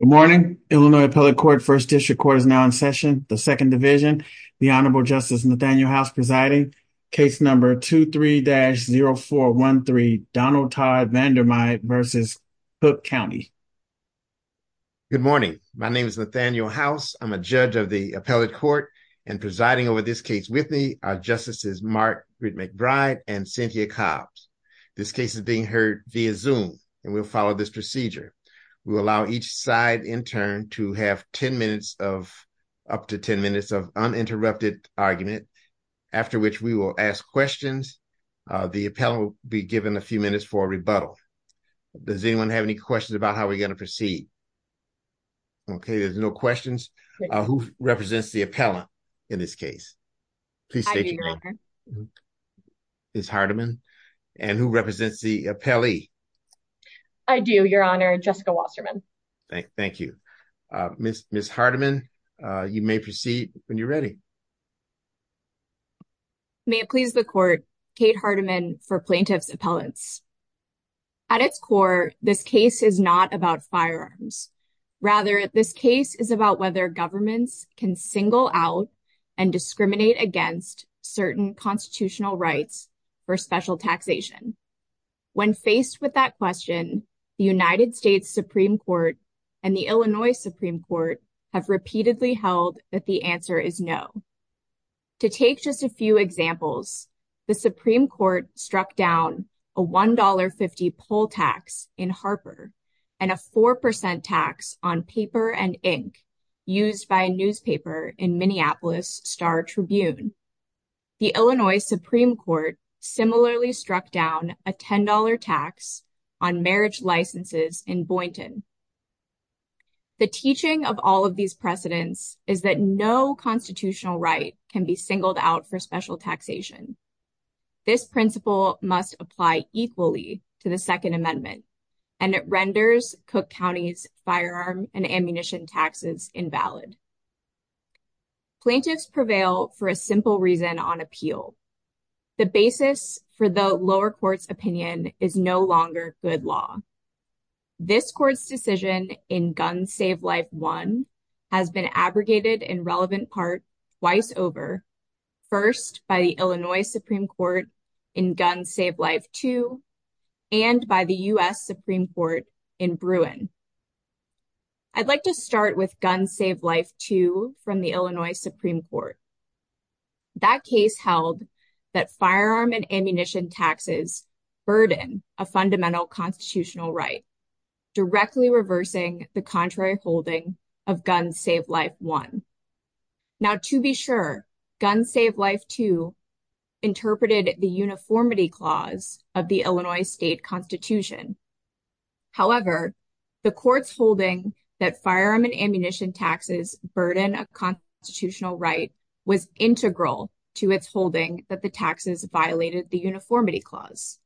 Good morning, Illinois Appellate Court, 1st District Court is now in session, the 2nd Division, the Honorable Justice Nathaniel House presiding, case number 23-0413 Donald Todd Vandermyde v. Cook County Good morning, my name is Nathaniel House. I'm a judge of the Appellate Court and presiding over this case with me are Justices Mark McBride and Cynthia Cobbs. This case is being heard via zoom, and we'll follow this procedure will allow each side in turn to have 10 minutes of up to 10 minutes of uninterrupted argument, after which we will ask questions. The appellant will be given a few minutes for rebuttal. Does anyone have any questions about how we're going to proceed. Okay, there's no questions. Who represents the appellant. In this case, please. Ms. Hardiman, and who represents the appellee. I do, Your Honor, Jessica Wasserman. Thank you. Ms. Hardiman, you may proceed when you're ready. May it please the Court, Kate Hardiman for Plaintiff's Appellants. At its core, this case is not about firearms. Rather, this case is about whether governments can single out and discriminate against certain constitutional rights for special taxation. When faced with that question, the United States Supreme Court and the Illinois Supreme Court have repeatedly held that the answer is no. To take just a few examples, the Supreme Court struck down a $1.50 poll tax in Harper and a 4% tax on paper and ink used by a newspaper in Minneapolis Star Tribune. The Illinois Supreme Court similarly struck down a $10 tax on marriage licenses in Boynton. The teaching of all of these precedents is that no constitutional right can be singled out for special taxation. This principle must apply equally to the Second Amendment, and it renders Cook County's firearm and ammunition taxes invalid. Plaintiffs prevail for a simple reason on appeal. The basis for the lower court's opinion is no longer good law. This court's decision in Gun Save Life 1 has been abrogated in relevant part twice over, first by the Illinois Supreme Court in Gun Save Life 2 and by the U.S. Supreme Court in Bruin. I'd like to start with Gun Save Life 2 from the Illinois Supreme Court. That case held that firearm and ammunition taxes burden a fundamental constitutional right, directly reversing the contrary holding of Gun Save Life 1. Now, to be sure, Gun Save Life 2 interpreted the uniformity clause of the Illinois state constitution. However, the court's holding that firearm and ammunition taxes burden a constitutional right was integral to its holding that the taxes violated the uniformity clause.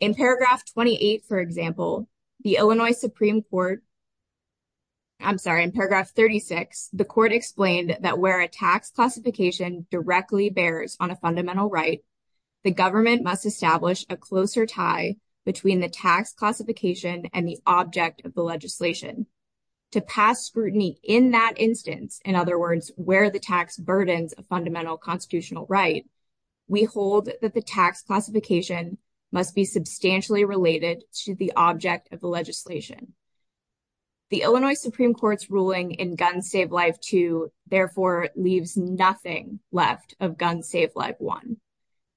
In paragraph 28, for example, the Illinois Supreme Court, I'm sorry, in paragraph 36, the court explained that where a tax classification directly bears on a fundamental right, the government must establish a closer tie between the tax classification and the object of the legislation. To pass scrutiny in that instance, in other words, where the tax burdens a fundamental constitutional right, we hold that the tax classification must be substantially related to the object of the legislation. The Illinois Supreme Court's ruling in Gun Save Life 2, therefore, leaves nothing left of Gun Save Life 1,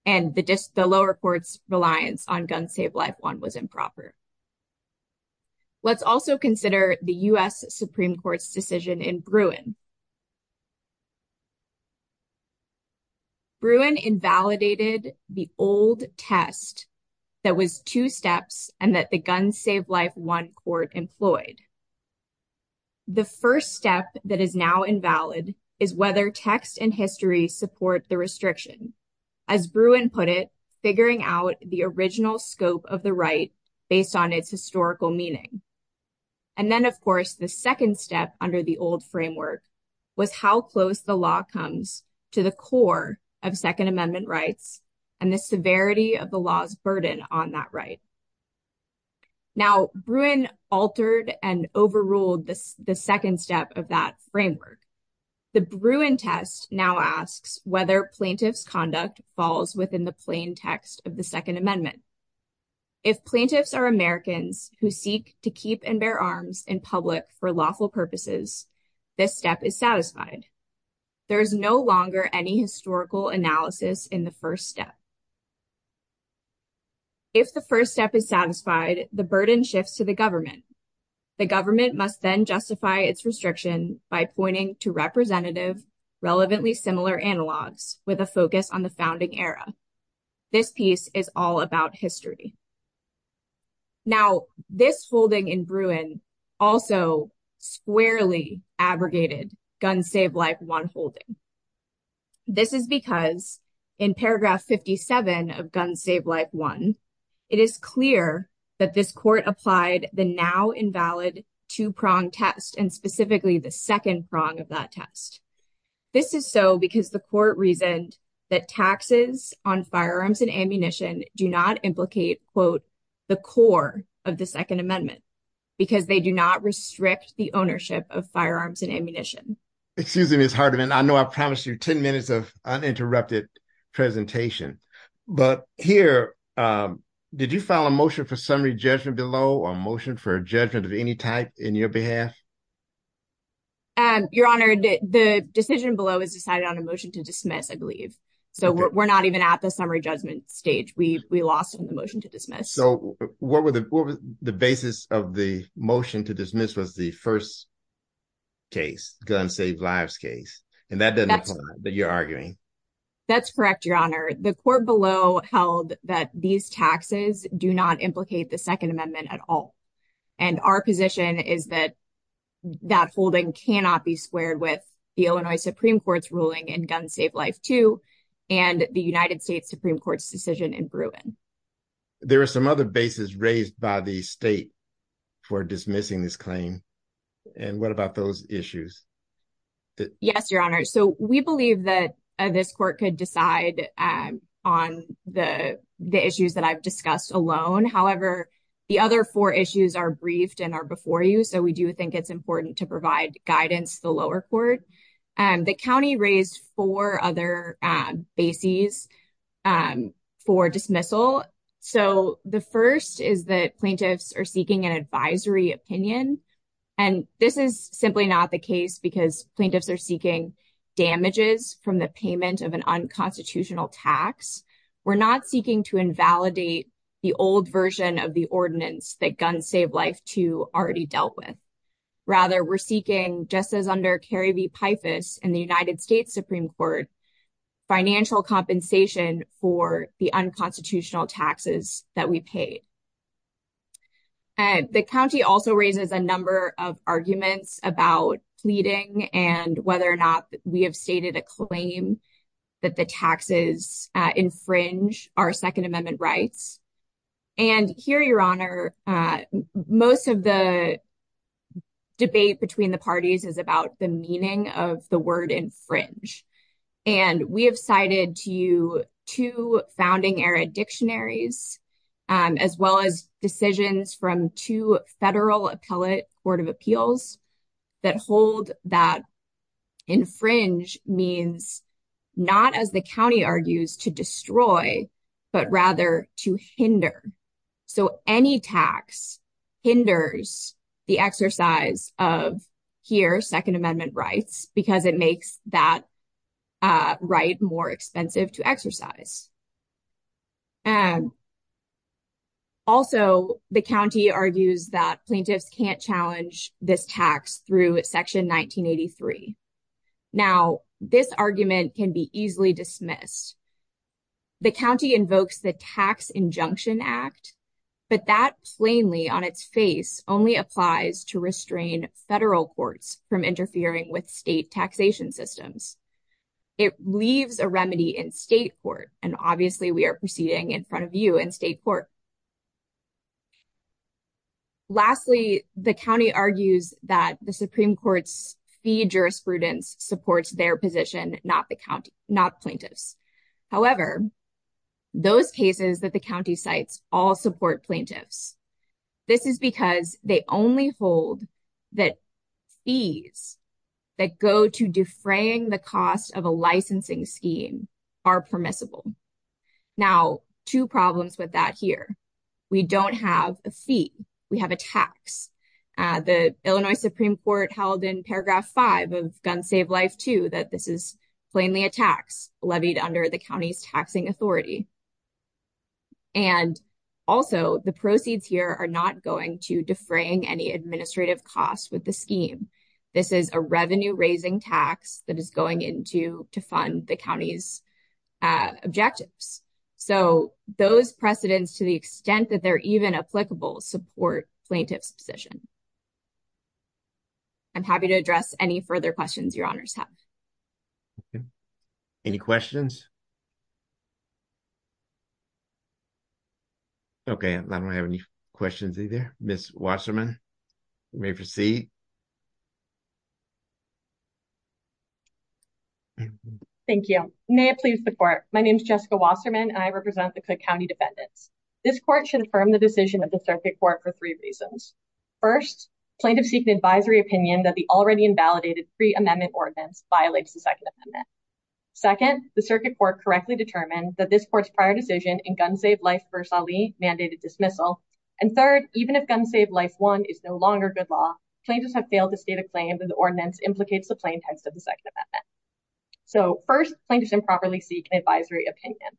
and the lower court's reliance on Gun Save Life 1 was improper. Let's also consider the U.S. Supreme Court's decision in Bruin. Bruin invalidated the old test that was two steps and that the Gun Save Life 1 court employed. The first step that is now invalid is whether text and history support the restriction. As Bruin put it, figuring out the original scope of the right based on its historical meaning. And then, of course, the second step under the old framework was how close the law comes to the core of Second Amendment rights and the severity of the law's burden on that right. Now, Bruin altered and overruled the second step of that framework. The Bruin test now asks whether plaintiff's conduct falls within the plain text of the Second Amendment. If plaintiffs are Americans who seek to keep and bear arms in public for lawful purposes, this step is satisfied. There is no longer any historical analysis in the first step. If the first step is satisfied, the burden shifts to the government. The government must then justify its restriction by pointing to representative, relevantly similar analogs with a focus on the founding era. This piece is all about history. Now, this holding in Bruin also squarely abrogated Gun Save Life 1 holding. This is because in paragraph 57 of Gun Save Life 1, it is clear that this court applied the now invalid two-pronged test and specifically the second prong of that test. This is so because the court reasoned that taxes on firearms and ammunition do not implicate, quote, the core of the Second Amendment because they do not restrict the ownership of firearms and ammunition. Excuse me, Ms. Hardiman, I know I promised you 10 minutes of uninterrupted presentation. But here, did you file a motion for summary judgment below or a motion for judgment of any type in your behalf? Your Honor, the decision below is decided on a motion to dismiss, I believe. So we're not even at the summary judgment stage. We lost the motion to dismiss. So what was the basis of the motion to dismiss was the first case, Gun Save Lives case. And that doesn't apply, but you're arguing. That's correct, Your Honor. The court below held that these taxes do not implicate the Second Amendment at all. And our position is that that holding cannot be squared with the Illinois Supreme Court's ruling in Gun Save Life 2 and the United States Supreme Court's decision in Bruin. There are some other bases raised by the state for dismissing this claim. And what about those issues? Yes, Your Honor. So we believe that this court could decide on the issues that I've discussed alone. However, the other four issues are briefed and are before you. So we do think it's important to provide guidance to the lower court. The county raised four other bases for dismissal. So the first is that plaintiffs are seeking an advisory opinion. And this is simply not the case because plaintiffs are seeking damages from the payment of an unconstitutional tax. We're not seeking to invalidate the old version of the ordinance that Gun Save Life 2 already dealt with. Rather, we're seeking, just as under Kerry v. Pifus in the United States Supreme Court, financial compensation for the unconstitutional taxes that we paid. The county also raises a number of arguments about pleading and whether or not we have stated a claim that the taxes infringe our Second Amendment rights. And here, Your Honor, most of the debate between the parties is about the meaning of the word infringe. And we have cited to you two founding-era dictionaries, as well as decisions from two federal appellate court of appeals that hold that infringe means not, as the county argues, to destroy, but rather to hinder. So any tax hinders the exercise of, here, Second Amendment rights because it makes that right more expensive to exercise. Also, the county argues that plaintiffs can't challenge this tax through Section 1983. Now, this argument can be easily dismissed. The county invokes the Tax Injunction Act, but that plainly, on its face, only applies to restrain federal courts from interfering with state taxation systems. It leaves a remedy in state court, and obviously we are proceeding in front of you in state court. Lastly, the county argues that the Supreme Court's fee jurisprudence supports their position, not plaintiffs. However, those cases that the county cites all support plaintiffs. This is because they only hold that fees that go to defraying the cost of a licensing scheme are permissible. Now, two problems with that here. We don't have a fee. We have a tax. The Illinois Supreme Court held in paragraph 5 of Gun Save Life 2 that this is plainly a tax levied under the county's taxing authority. And also, the proceeds here are not going to defraying any administrative costs with the scheme. This is a revenue-raising tax that is going into to fund the county's objectives. So, those precedents, to the extent that they're even applicable, support plaintiff's position. I'm happy to address any further questions your honors have. Any questions? Okay, I don't have any questions either. Ms. Wasserman, you may proceed. Thank you. May it please the court. My name is Jessica Wasserman and I represent the Cook County defendants. This court should affirm the decision of the circuit court for three reasons. First, plaintiffs seek an advisory opinion that the already invalidated pre-amendment ordinance violates the Second Amendment. Second, the circuit court correctly determined that this court's prior decision in Gun Save Life v. Ali mandated dismissal. And third, even if Gun Save Life 1 is no longer good law, plaintiffs have failed to state a claim that the ordinance implicates the plain text of the Second Amendment. So, first, plaintiffs improperly seek an advisory opinion.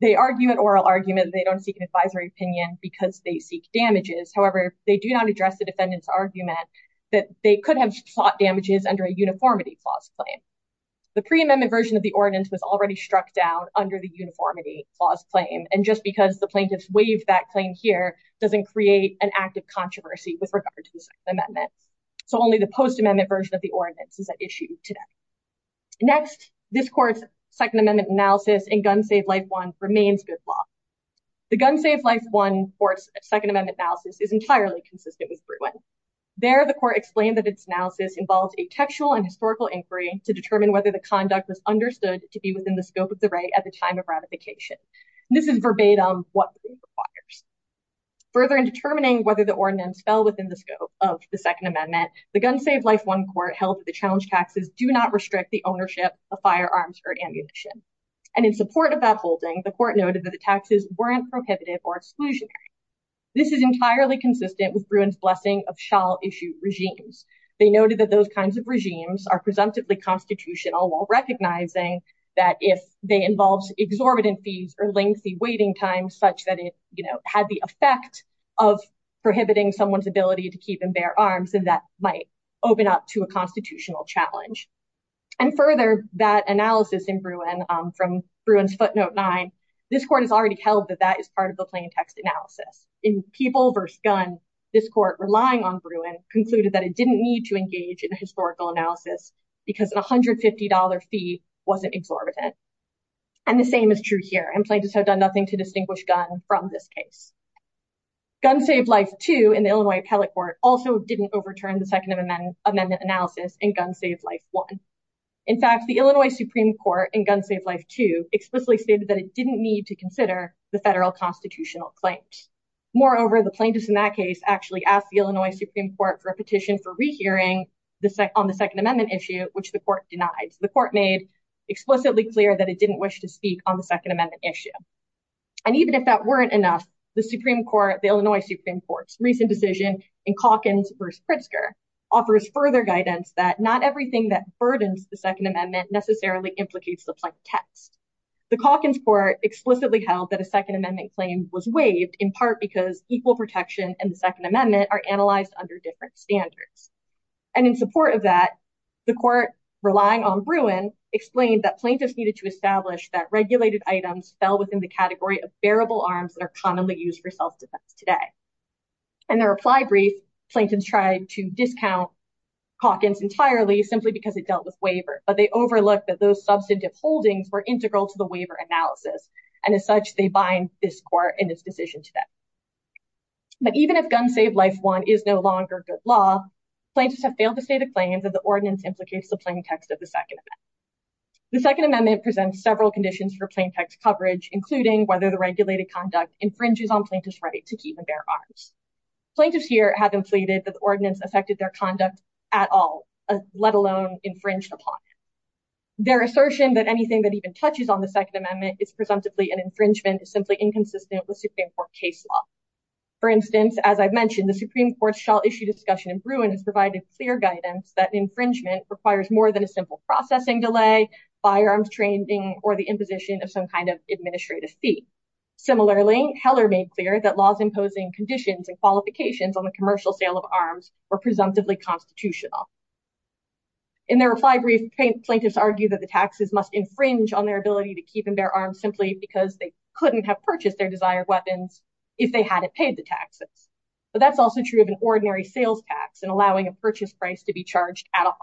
They argue an oral argument that they don't seek an advisory opinion because they seek damages. However, they do not address the defendant's argument that they could have sought damages under a uniformity clause claim. The pre-amendment version of the ordinance was already struck down under the uniformity clause claim. And just because the plaintiffs waived that claim here doesn't create an active controversy with regard to the Second Amendment. So only the post-amendment version of the ordinance is at issue today. Next, this court's Second Amendment analysis in Gun Save Life 1 remains good law. The Gun Save Life 1 court's Second Amendment analysis is entirely consistent with Bruin. There, the court explained that its analysis involves a textual and historical inquiry to determine whether the conduct was understood to be within the scope of the right at the time of ratification. This is verbatim what the court requires. Further, in determining whether the ordinance fell within the scope of the Second Amendment, the Gun Save Life 1 court held that the challenge taxes do not restrict the ownership of firearms or ammunition. And in support of that holding, the court noted that the taxes weren't prohibitive or exclusionary. This is entirely consistent with Bruin's blessing of shall-issue regimes. They noted that those kinds of regimes are presumptively constitutional, while recognizing that if they involve exorbitant fees or lengthy waiting times such that it had the effect of prohibiting someone's ability to keep and bear arms, then that might open up to a constitutional challenge. And further, that analysis in Bruin from Bruin's footnote 9, this court has already held that that is part of the plaintext analysis. In People v. Gun, this court, relying on Bruin, concluded that it didn't need to engage in a historical analysis because a $150 fee wasn't exorbitant. And the same is true here. Implaintors have done nothing to distinguish Gun from this case. Gun Save Life 2 in the Illinois Appellate Court also didn't overturn the Second Amendment analysis in Gun Save Life 1. In fact, the Illinois Supreme Court in Gun Save Life 2 explicitly stated that it didn't need to consider the federal constitutional claims. Moreover, the plaintiffs in that case actually asked the Illinois Supreme Court for a petition for rehearing on the Second Amendment issue, which the court denied. The court made explicitly clear that it didn't wish to speak on the Second Amendment issue. And even if that weren't enough, the Supreme Court, the Illinois Supreme Court's recent decision in Calkins v. Pritzker, offers further guidance that not everything that burdens the Second Amendment necessarily implicates the plaintext. The Calkins court explicitly held that a Second Amendment claim was waived in part because equal protection and the Second Amendment are analyzed under different standards. And in support of that, the court, relying on Bruin, explained that plaintiffs needed to establish that regulated items fell within the category of bearable arms that are commonly used for self-defense today. In their reply brief, plaintiffs tried to discount Calkins entirely simply because it dealt with waiver, but they overlooked that those substantive holdings were integral to the waiver analysis. And as such, they bind this court in its decision today. But even if Gun Save Life 1 is no longer good law, plaintiffs have failed to state a claim that the ordinance implicates the plaintext of the Second Amendment. The Second Amendment presents several conditions for plaintext coverage, including whether the regulated conduct infringes on plaintiffs' right to keep and bear arms. Plaintiffs here have implicated that the ordinance affected their conduct at all, let alone infringed upon. Their assertion that anything that even touches on the Second Amendment is presumptively an infringement is simply inconsistent with Supreme Court case law. For instance, as I've mentioned, the Supreme Court's shall issue discussion in Bruin has provided clear guidance that infringement requires more than a simple processing delay, firearms training, or the imposition of some kind of administrative fee. Similarly, Heller made clear that laws imposing conditions and qualifications on the commercial sale of arms were presumptively constitutional. In their reply brief, plaintiffs argue that the taxes must infringe on their ability to keep and bear arms simply because they couldn't have purchased their desired weapons if they hadn't paid the taxes. But that's also true of an ordinary sales tax and allowing a purchase price to be charged at all.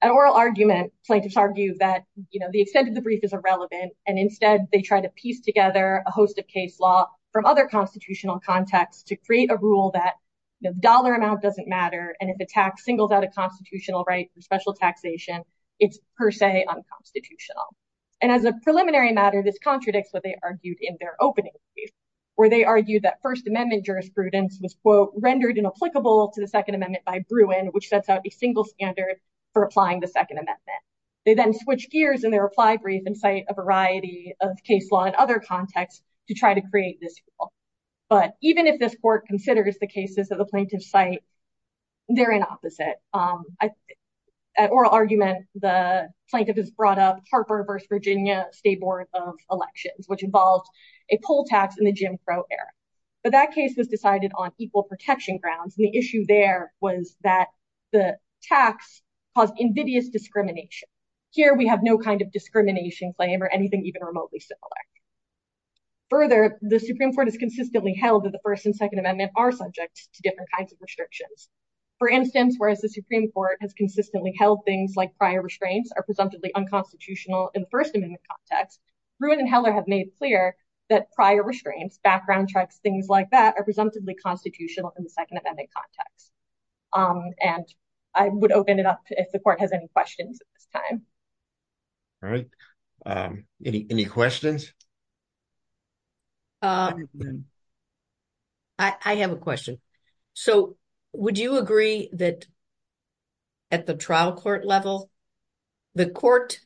At oral argument, plaintiffs argue that the extent of the brief is irrelevant, and instead they try to piece together a host of case law from other constitutional contexts to create a rule that the dollar amount doesn't matter, and if a tax singles out a constitutional right for special taxation, it's per se unconstitutional. And as a preliminary matter, this contradicts what they argued in their opening brief, where they argued that First Amendment jurisprudence was, quote, rendered inapplicable to the Second Amendment by Bruin, which sets out a single standard for applying the Second Amendment. They then switch gears in their reply brief and cite a variety of case law in other contexts to try to create this rule. But even if this court considers the cases that the plaintiffs cite, they're inopposite. At oral argument, the plaintiff has brought up Harper v. Virginia State Board of Elections, which involved a poll tax in the Jim Crow era. But that case was decided on equal protection grounds, and the issue there was that the tax caused invidious discrimination. Here we have no kind of discrimination claim or anything even remotely similar. Further, the Supreme Court has consistently held that the First and Second Amendment are subject to different kinds of restrictions. For instance, whereas the Supreme Court has consistently held things like prior restraints are presumptively unconstitutional in the First Amendment context, Bruin and Heller have made clear that prior restraints, background checks, things like that, are presumptively constitutional in the Second Amendment context. And I would open it up if the court has any questions at this time. All right. Any questions? I have a question. So would you agree that at the trial court level, the court,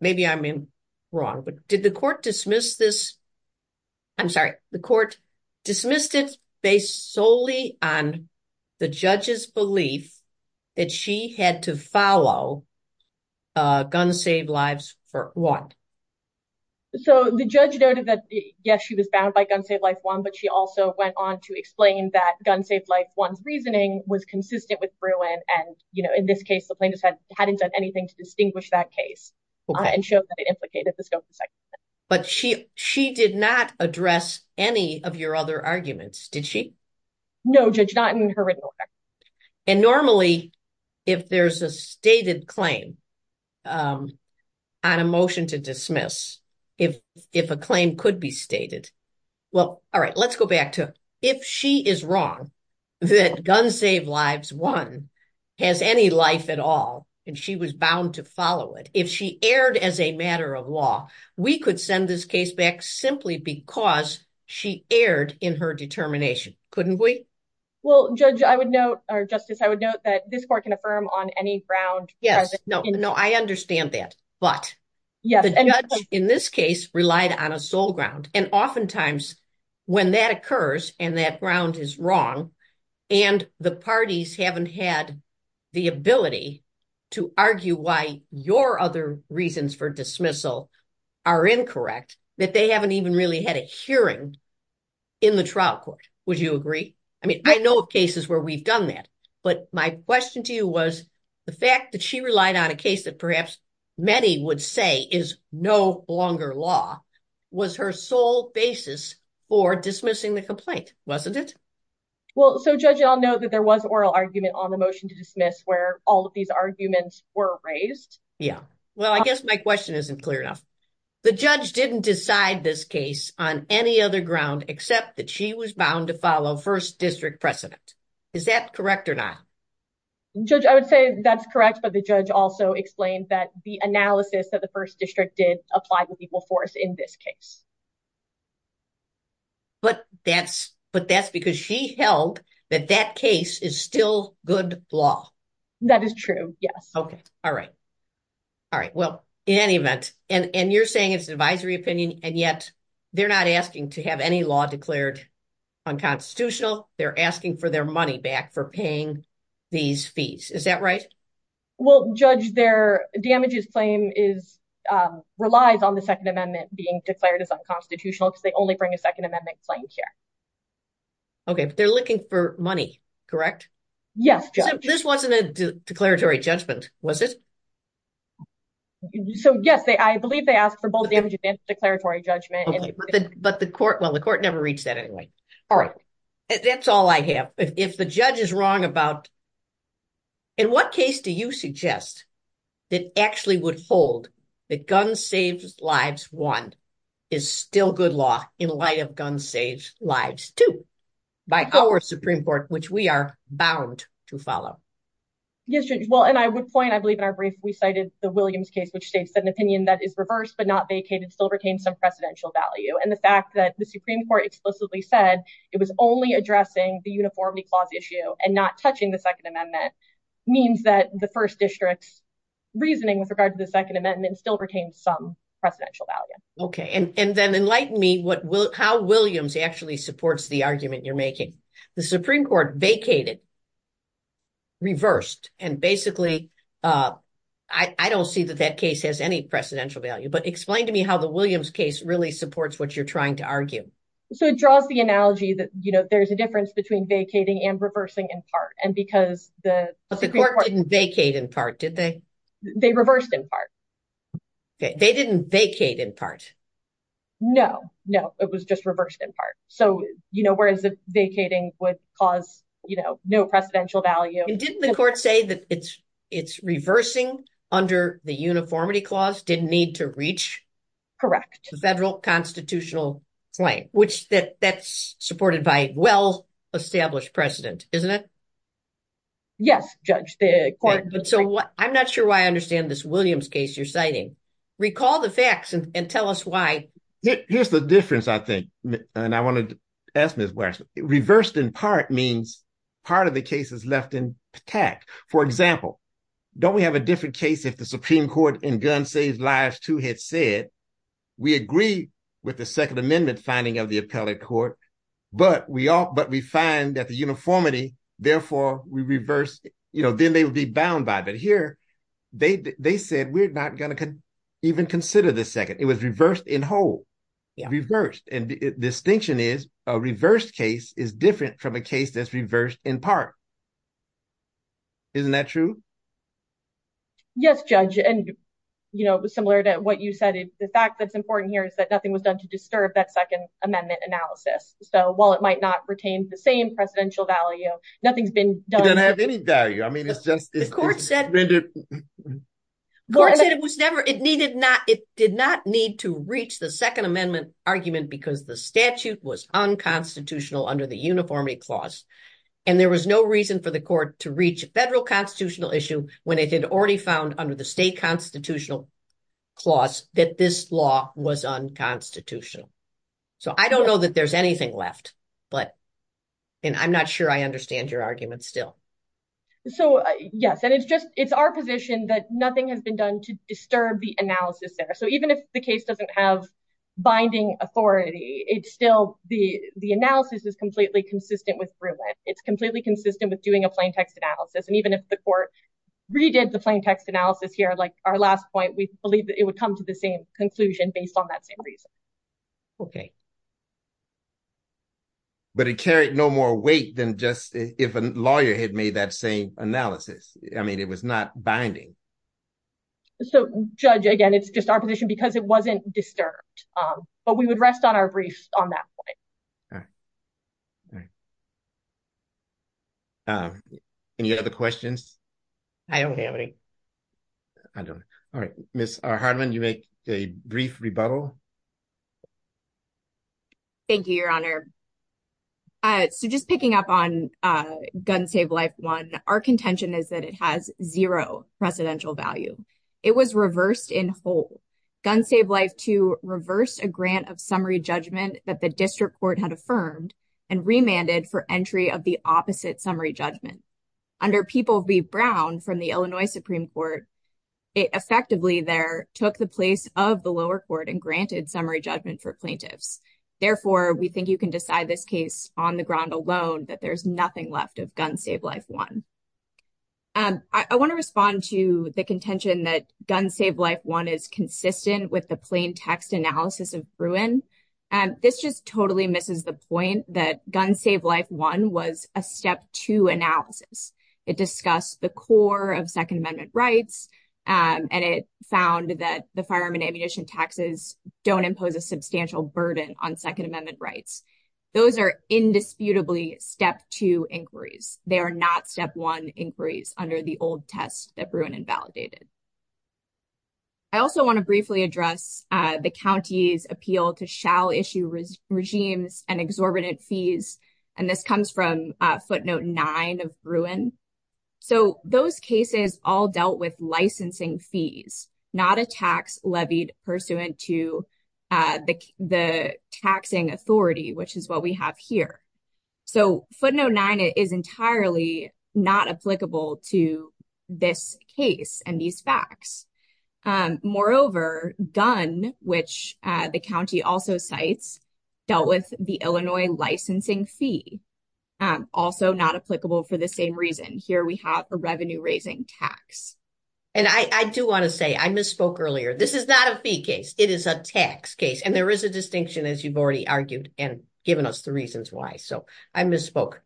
maybe I'm wrong, but did the court dismiss this? I'm sorry, the court dismissed it based solely on the judge's belief that she had to follow Gun Saved Lives for what? So the judge noted that, yes, she was bound by Gun Saved Lives 1, but she also went on to explain that Gun Saved Lives 1's reasoning was consistent with Bruin. And, you know, in this case, the plaintiff hadn't done anything to distinguish that case and showed that it implicated the scope of the Second Amendment. But she did not address any of your other arguments, did she? No, Judge, not in her written order. And normally, if there's a stated claim on a motion to dismiss, if a claim could be stated. Well, all right, let's go back to if she is wrong that Gun Saved Lives 1 has any life at all and she was bound to follow it, if she erred as a matter of law, we could send this case back simply because she erred in her determination, couldn't we? Well, Judge, I would note or Justice, I would note that this court can affirm on any ground. No, I understand that. But the judge in this case relied on a sole ground. And oftentimes when that occurs and that ground is wrong and the parties haven't had the ability to argue why your other reasons for dismissal are incorrect, that they haven't even really had a hearing in the trial court. Would you agree? I mean, I know of cases where we've done that. But my question to you was the fact that she relied on a case that perhaps many would say is no longer law was her sole basis for dismissing the complaint, wasn't it? Well, so, Judge, I'll note that there was oral argument on the motion to dismiss where all of these arguments were raised. Yeah, well, I guess my question isn't clear enough. The judge didn't decide this case on any other ground except that she was bound to follow first district precedent. Is that correct or not? Judge, I would say that's correct. But the judge also explained that the analysis that the first district did apply to people for us in this case. But that's because she held that that case is still good law. That is true. Yes. OK. All right. All right. Well, in any event, and you're saying it's advisory opinion and yet they're not asking to have any law declared unconstitutional. They're asking for their money back for paying these fees. Is that right? Well, Judge, their damages claim is relies on the Second Amendment being declared as unconstitutional because they only bring a Second Amendment claim here. OK, but they're looking for money, correct? Yes. This wasn't a declaratory judgment, was it? So, yes, I believe they asked for both damages and declaratory judgment. But the court, well, the court never reached that anyway. All right. That's all I have. If the judge is wrong about. In what case do you suggest that actually would hold that gun saves lives? One is still good law in light of gun saves lives, too, by our Supreme Court, which we are bound to follow. Yes. Well, and I would point I believe in our brief, we cited the Williams case, which states that an opinion that is reversed but not vacated still retains some precedential value. And the fact that the Supreme Court explicitly said it was only addressing the uniformity clause issue and not touching the Second Amendment means that the first district's reasoning with regard to the Second Amendment still retains some precedential value. OK. And then enlighten me what will how Williams actually supports the argument you're making. The Supreme Court vacated. Reversed. And basically, I don't see that that case has any precedential value, but explain to me how the Williams case really supports what you're trying to argue. So it draws the analogy that, you know, there's a difference between vacating and reversing in part. And because the court didn't vacate in part, did they? They reversed in part. They didn't vacate in part. No, no, it was just reversed in part. So, you know, whereas vacating would cause, you know, no precedential value. And didn't the court say that it's it's reversing under the uniformity clause didn't need to reach? Correct. The federal constitutional claim, which that that's supported by well-established precedent, isn't it? Yes, Judge, the court. So I'm not sure why I understand this Williams case you're citing. Recall the facts and tell us why. Here's the difference, I think. And I want to ask this question. Reversed in part means part of the case is left intact. For example, don't we have a different case if the Supreme Court in Gun Saves Lives 2 had said we agree with the Second Amendment finding of the appellate court, but we all but we find that the uniformity, therefore we reverse, you know, then they would be bound by it. But here they said we're not going to even consider the second. It was reversed in whole. And the distinction is a reversed case is different from a case that's reversed in part. Isn't that true? Yes, Judge, and, you know, similar to what you said, the fact that's important here is that nothing was done to disturb that Second Amendment analysis. So while it might not retain the same presidential value, nothing's been done. I mean, it's just the court said it was never it needed not. It did not need to reach the Second Amendment argument because the statute was unconstitutional under the uniformity clause. And there was no reason for the court to reach a federal constitutional issue when it had already found under the state constitutional clause that this law was unconstitutional. So I don't know that there's anything left, but and I'm not sure I understand your argument still. So, yes, and it's just it's our position that nothing has been done to disturb the analysis there. So even if the case doesn't have binding authority, it's still the the analysis is completely consistent with Bruin. It's completely consistent with doing a plain text analysis. And even if the court redid the plain text analysis here, like our last point, we believe that it would come to the same conclusion based on that same reason. OK. But it carried no more weight than just if a lawyer had made that same analysis. I mean, it was not binding. So, Judge, again, it's just our position because it wasn't disturbed, but we would rest on our briefs on that point. All right. Any other questions? I don't have any. I don't. All right. Miss Hardman, you make a brief rebuttal. Thank you, Your Honor. So just picking up on Gun Save Life one, our contention is that it has zero presidential value. It was reversed in whole. Gun Save Life two reversed a grant of summary judgment that the district court had affirmed and remanded for entry of the opposite summary judgment. Under People v. Brown from the Illinois Supreme Court, it effectively there took the place of the lower court and granted summary judgment for plaintiffs. Therefore, we think you can decide this case on the ground alone, that there's nothing left of Gun Save Life one. I want to respond to the contention that Gun Save Life one is consistent with the plain text analysis of Bruin. This just totally misses the point that Gun Save Life one was a step two analysis. It discussed the core of Second Amendment rights and it found that the firearm and ammunition taxes don't impose a substantial burden on Second Amendment rights. Those are indisputably step two inquiries. They are not step one inquiries under the old test that Bruin invalidated. I also want to briefly address the county's appeal to shall issue regimes and exorbitant fees. And this comes from footnote nine of Bruin. So those cases all dealt with licensing fees, not a tax levied pursuant to the taxing authority, which is what we have here. So footnote nine is entirely not applicable to this case and these facts. Moreover, Gun, which the county also cites, dealt with the Illinois licensing fee. Also not applicable for the same reason. Here we have a revenue raising tax. And I do want to say I misspoke earlier. This is not a fee case. It is a tax case. And there is a distinction, as you've already argued and given us the reasons why. So I misspoke.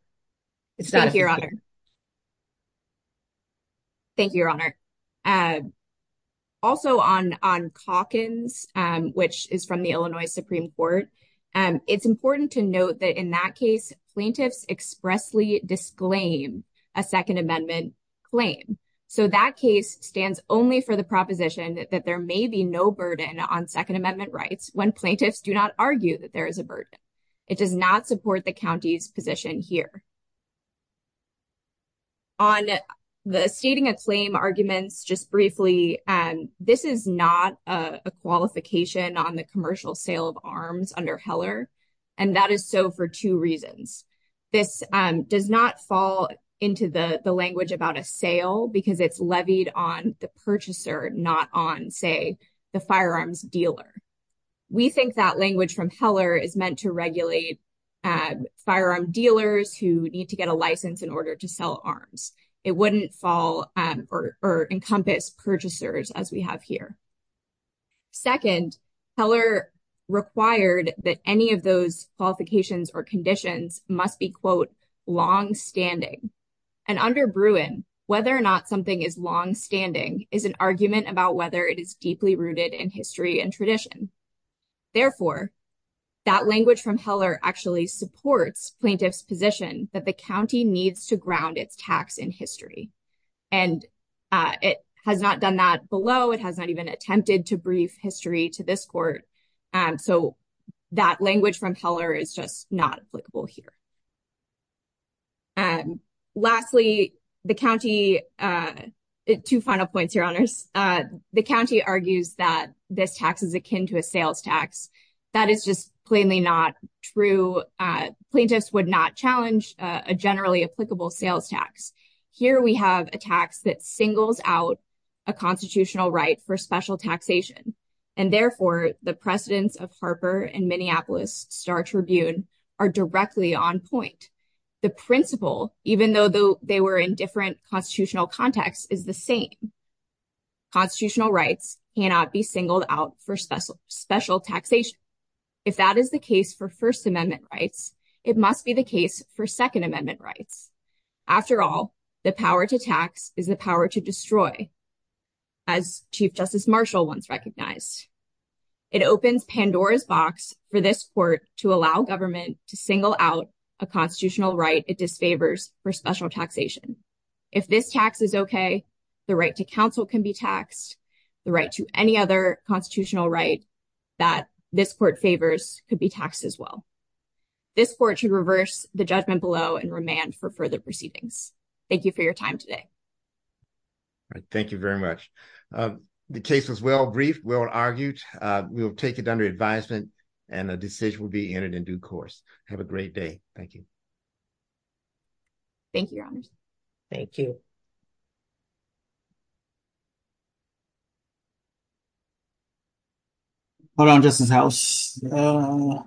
It's not your honor. Thank you, Your Honor. Also on on Calkins, which is from the Illinois Supreme Court. And it's important to note that in that case, plaintiffs expressly disclaim a Second Amendment claim. So that case stands only for the proposition that there may be no burden on Second Amendment rights when plaintiffs do not argue that there is a burden. It does not support the county's position here. On the stating a claim arguments, just briefly, this is not a qualification on the commercial sale of arms under Heller. And that is so for two reasons. This does not fall into the language about a sale because it's levied on the purchaser, not on, say, the firearms dealer. We think that language from Heller is meant to regulate firearm dealers who need to get a license in order to sell arms. It wouldn't fall or encompass purchasers as we have here. Second, Heller required that any of those qualifications or conditions must be, quote, long standing. And under Bruin, whether or not something is long standing is an argument about whether it is deeply rooted in history and tradition. Therefore, that language from Heller actually supports plaintiffs position that the county needs to ground its tax in history. And it has not done that below. It has not even attempted to brief history to this court. And so that language from Heller is just not applicable here. And lastly, the county two final points, your honors, the county argues that this tax is akin to a sales tax. That is just plainly not true. Plaintiffs would not challenge a generally applicable sales tax. Here we have a tax that singles out a constitutional right for special taxation. And therefore, the precedents of Harper and Minneapolis Star Tribune are directly on point. The principle, even though they were in different constitutional contexts, is the same. Constitutional rights cannot be singled out for special special taxation. If that is the case for First Amendment rights, it must be the case for Second Amendment rights. After all, the power to tax is the power to destroy. As Chief Justice Marshall once recognized, it opens Pandora's box for this court to allow government to single out a constitutional right. It disfavors for special taxation. If this tax is OK, the right to counsel can be taxed the right to any other constitutional right that this court favors could be taxed as well. This court should reverse the judgment below and remand for further proceedings. Thank you for your time today. Thank you very much. The case was well briefed, well argued. We will take it under advisement and a decision will be entered in due course. Have a great day. Thank you. Thank you. Thank you. Hold on just a second.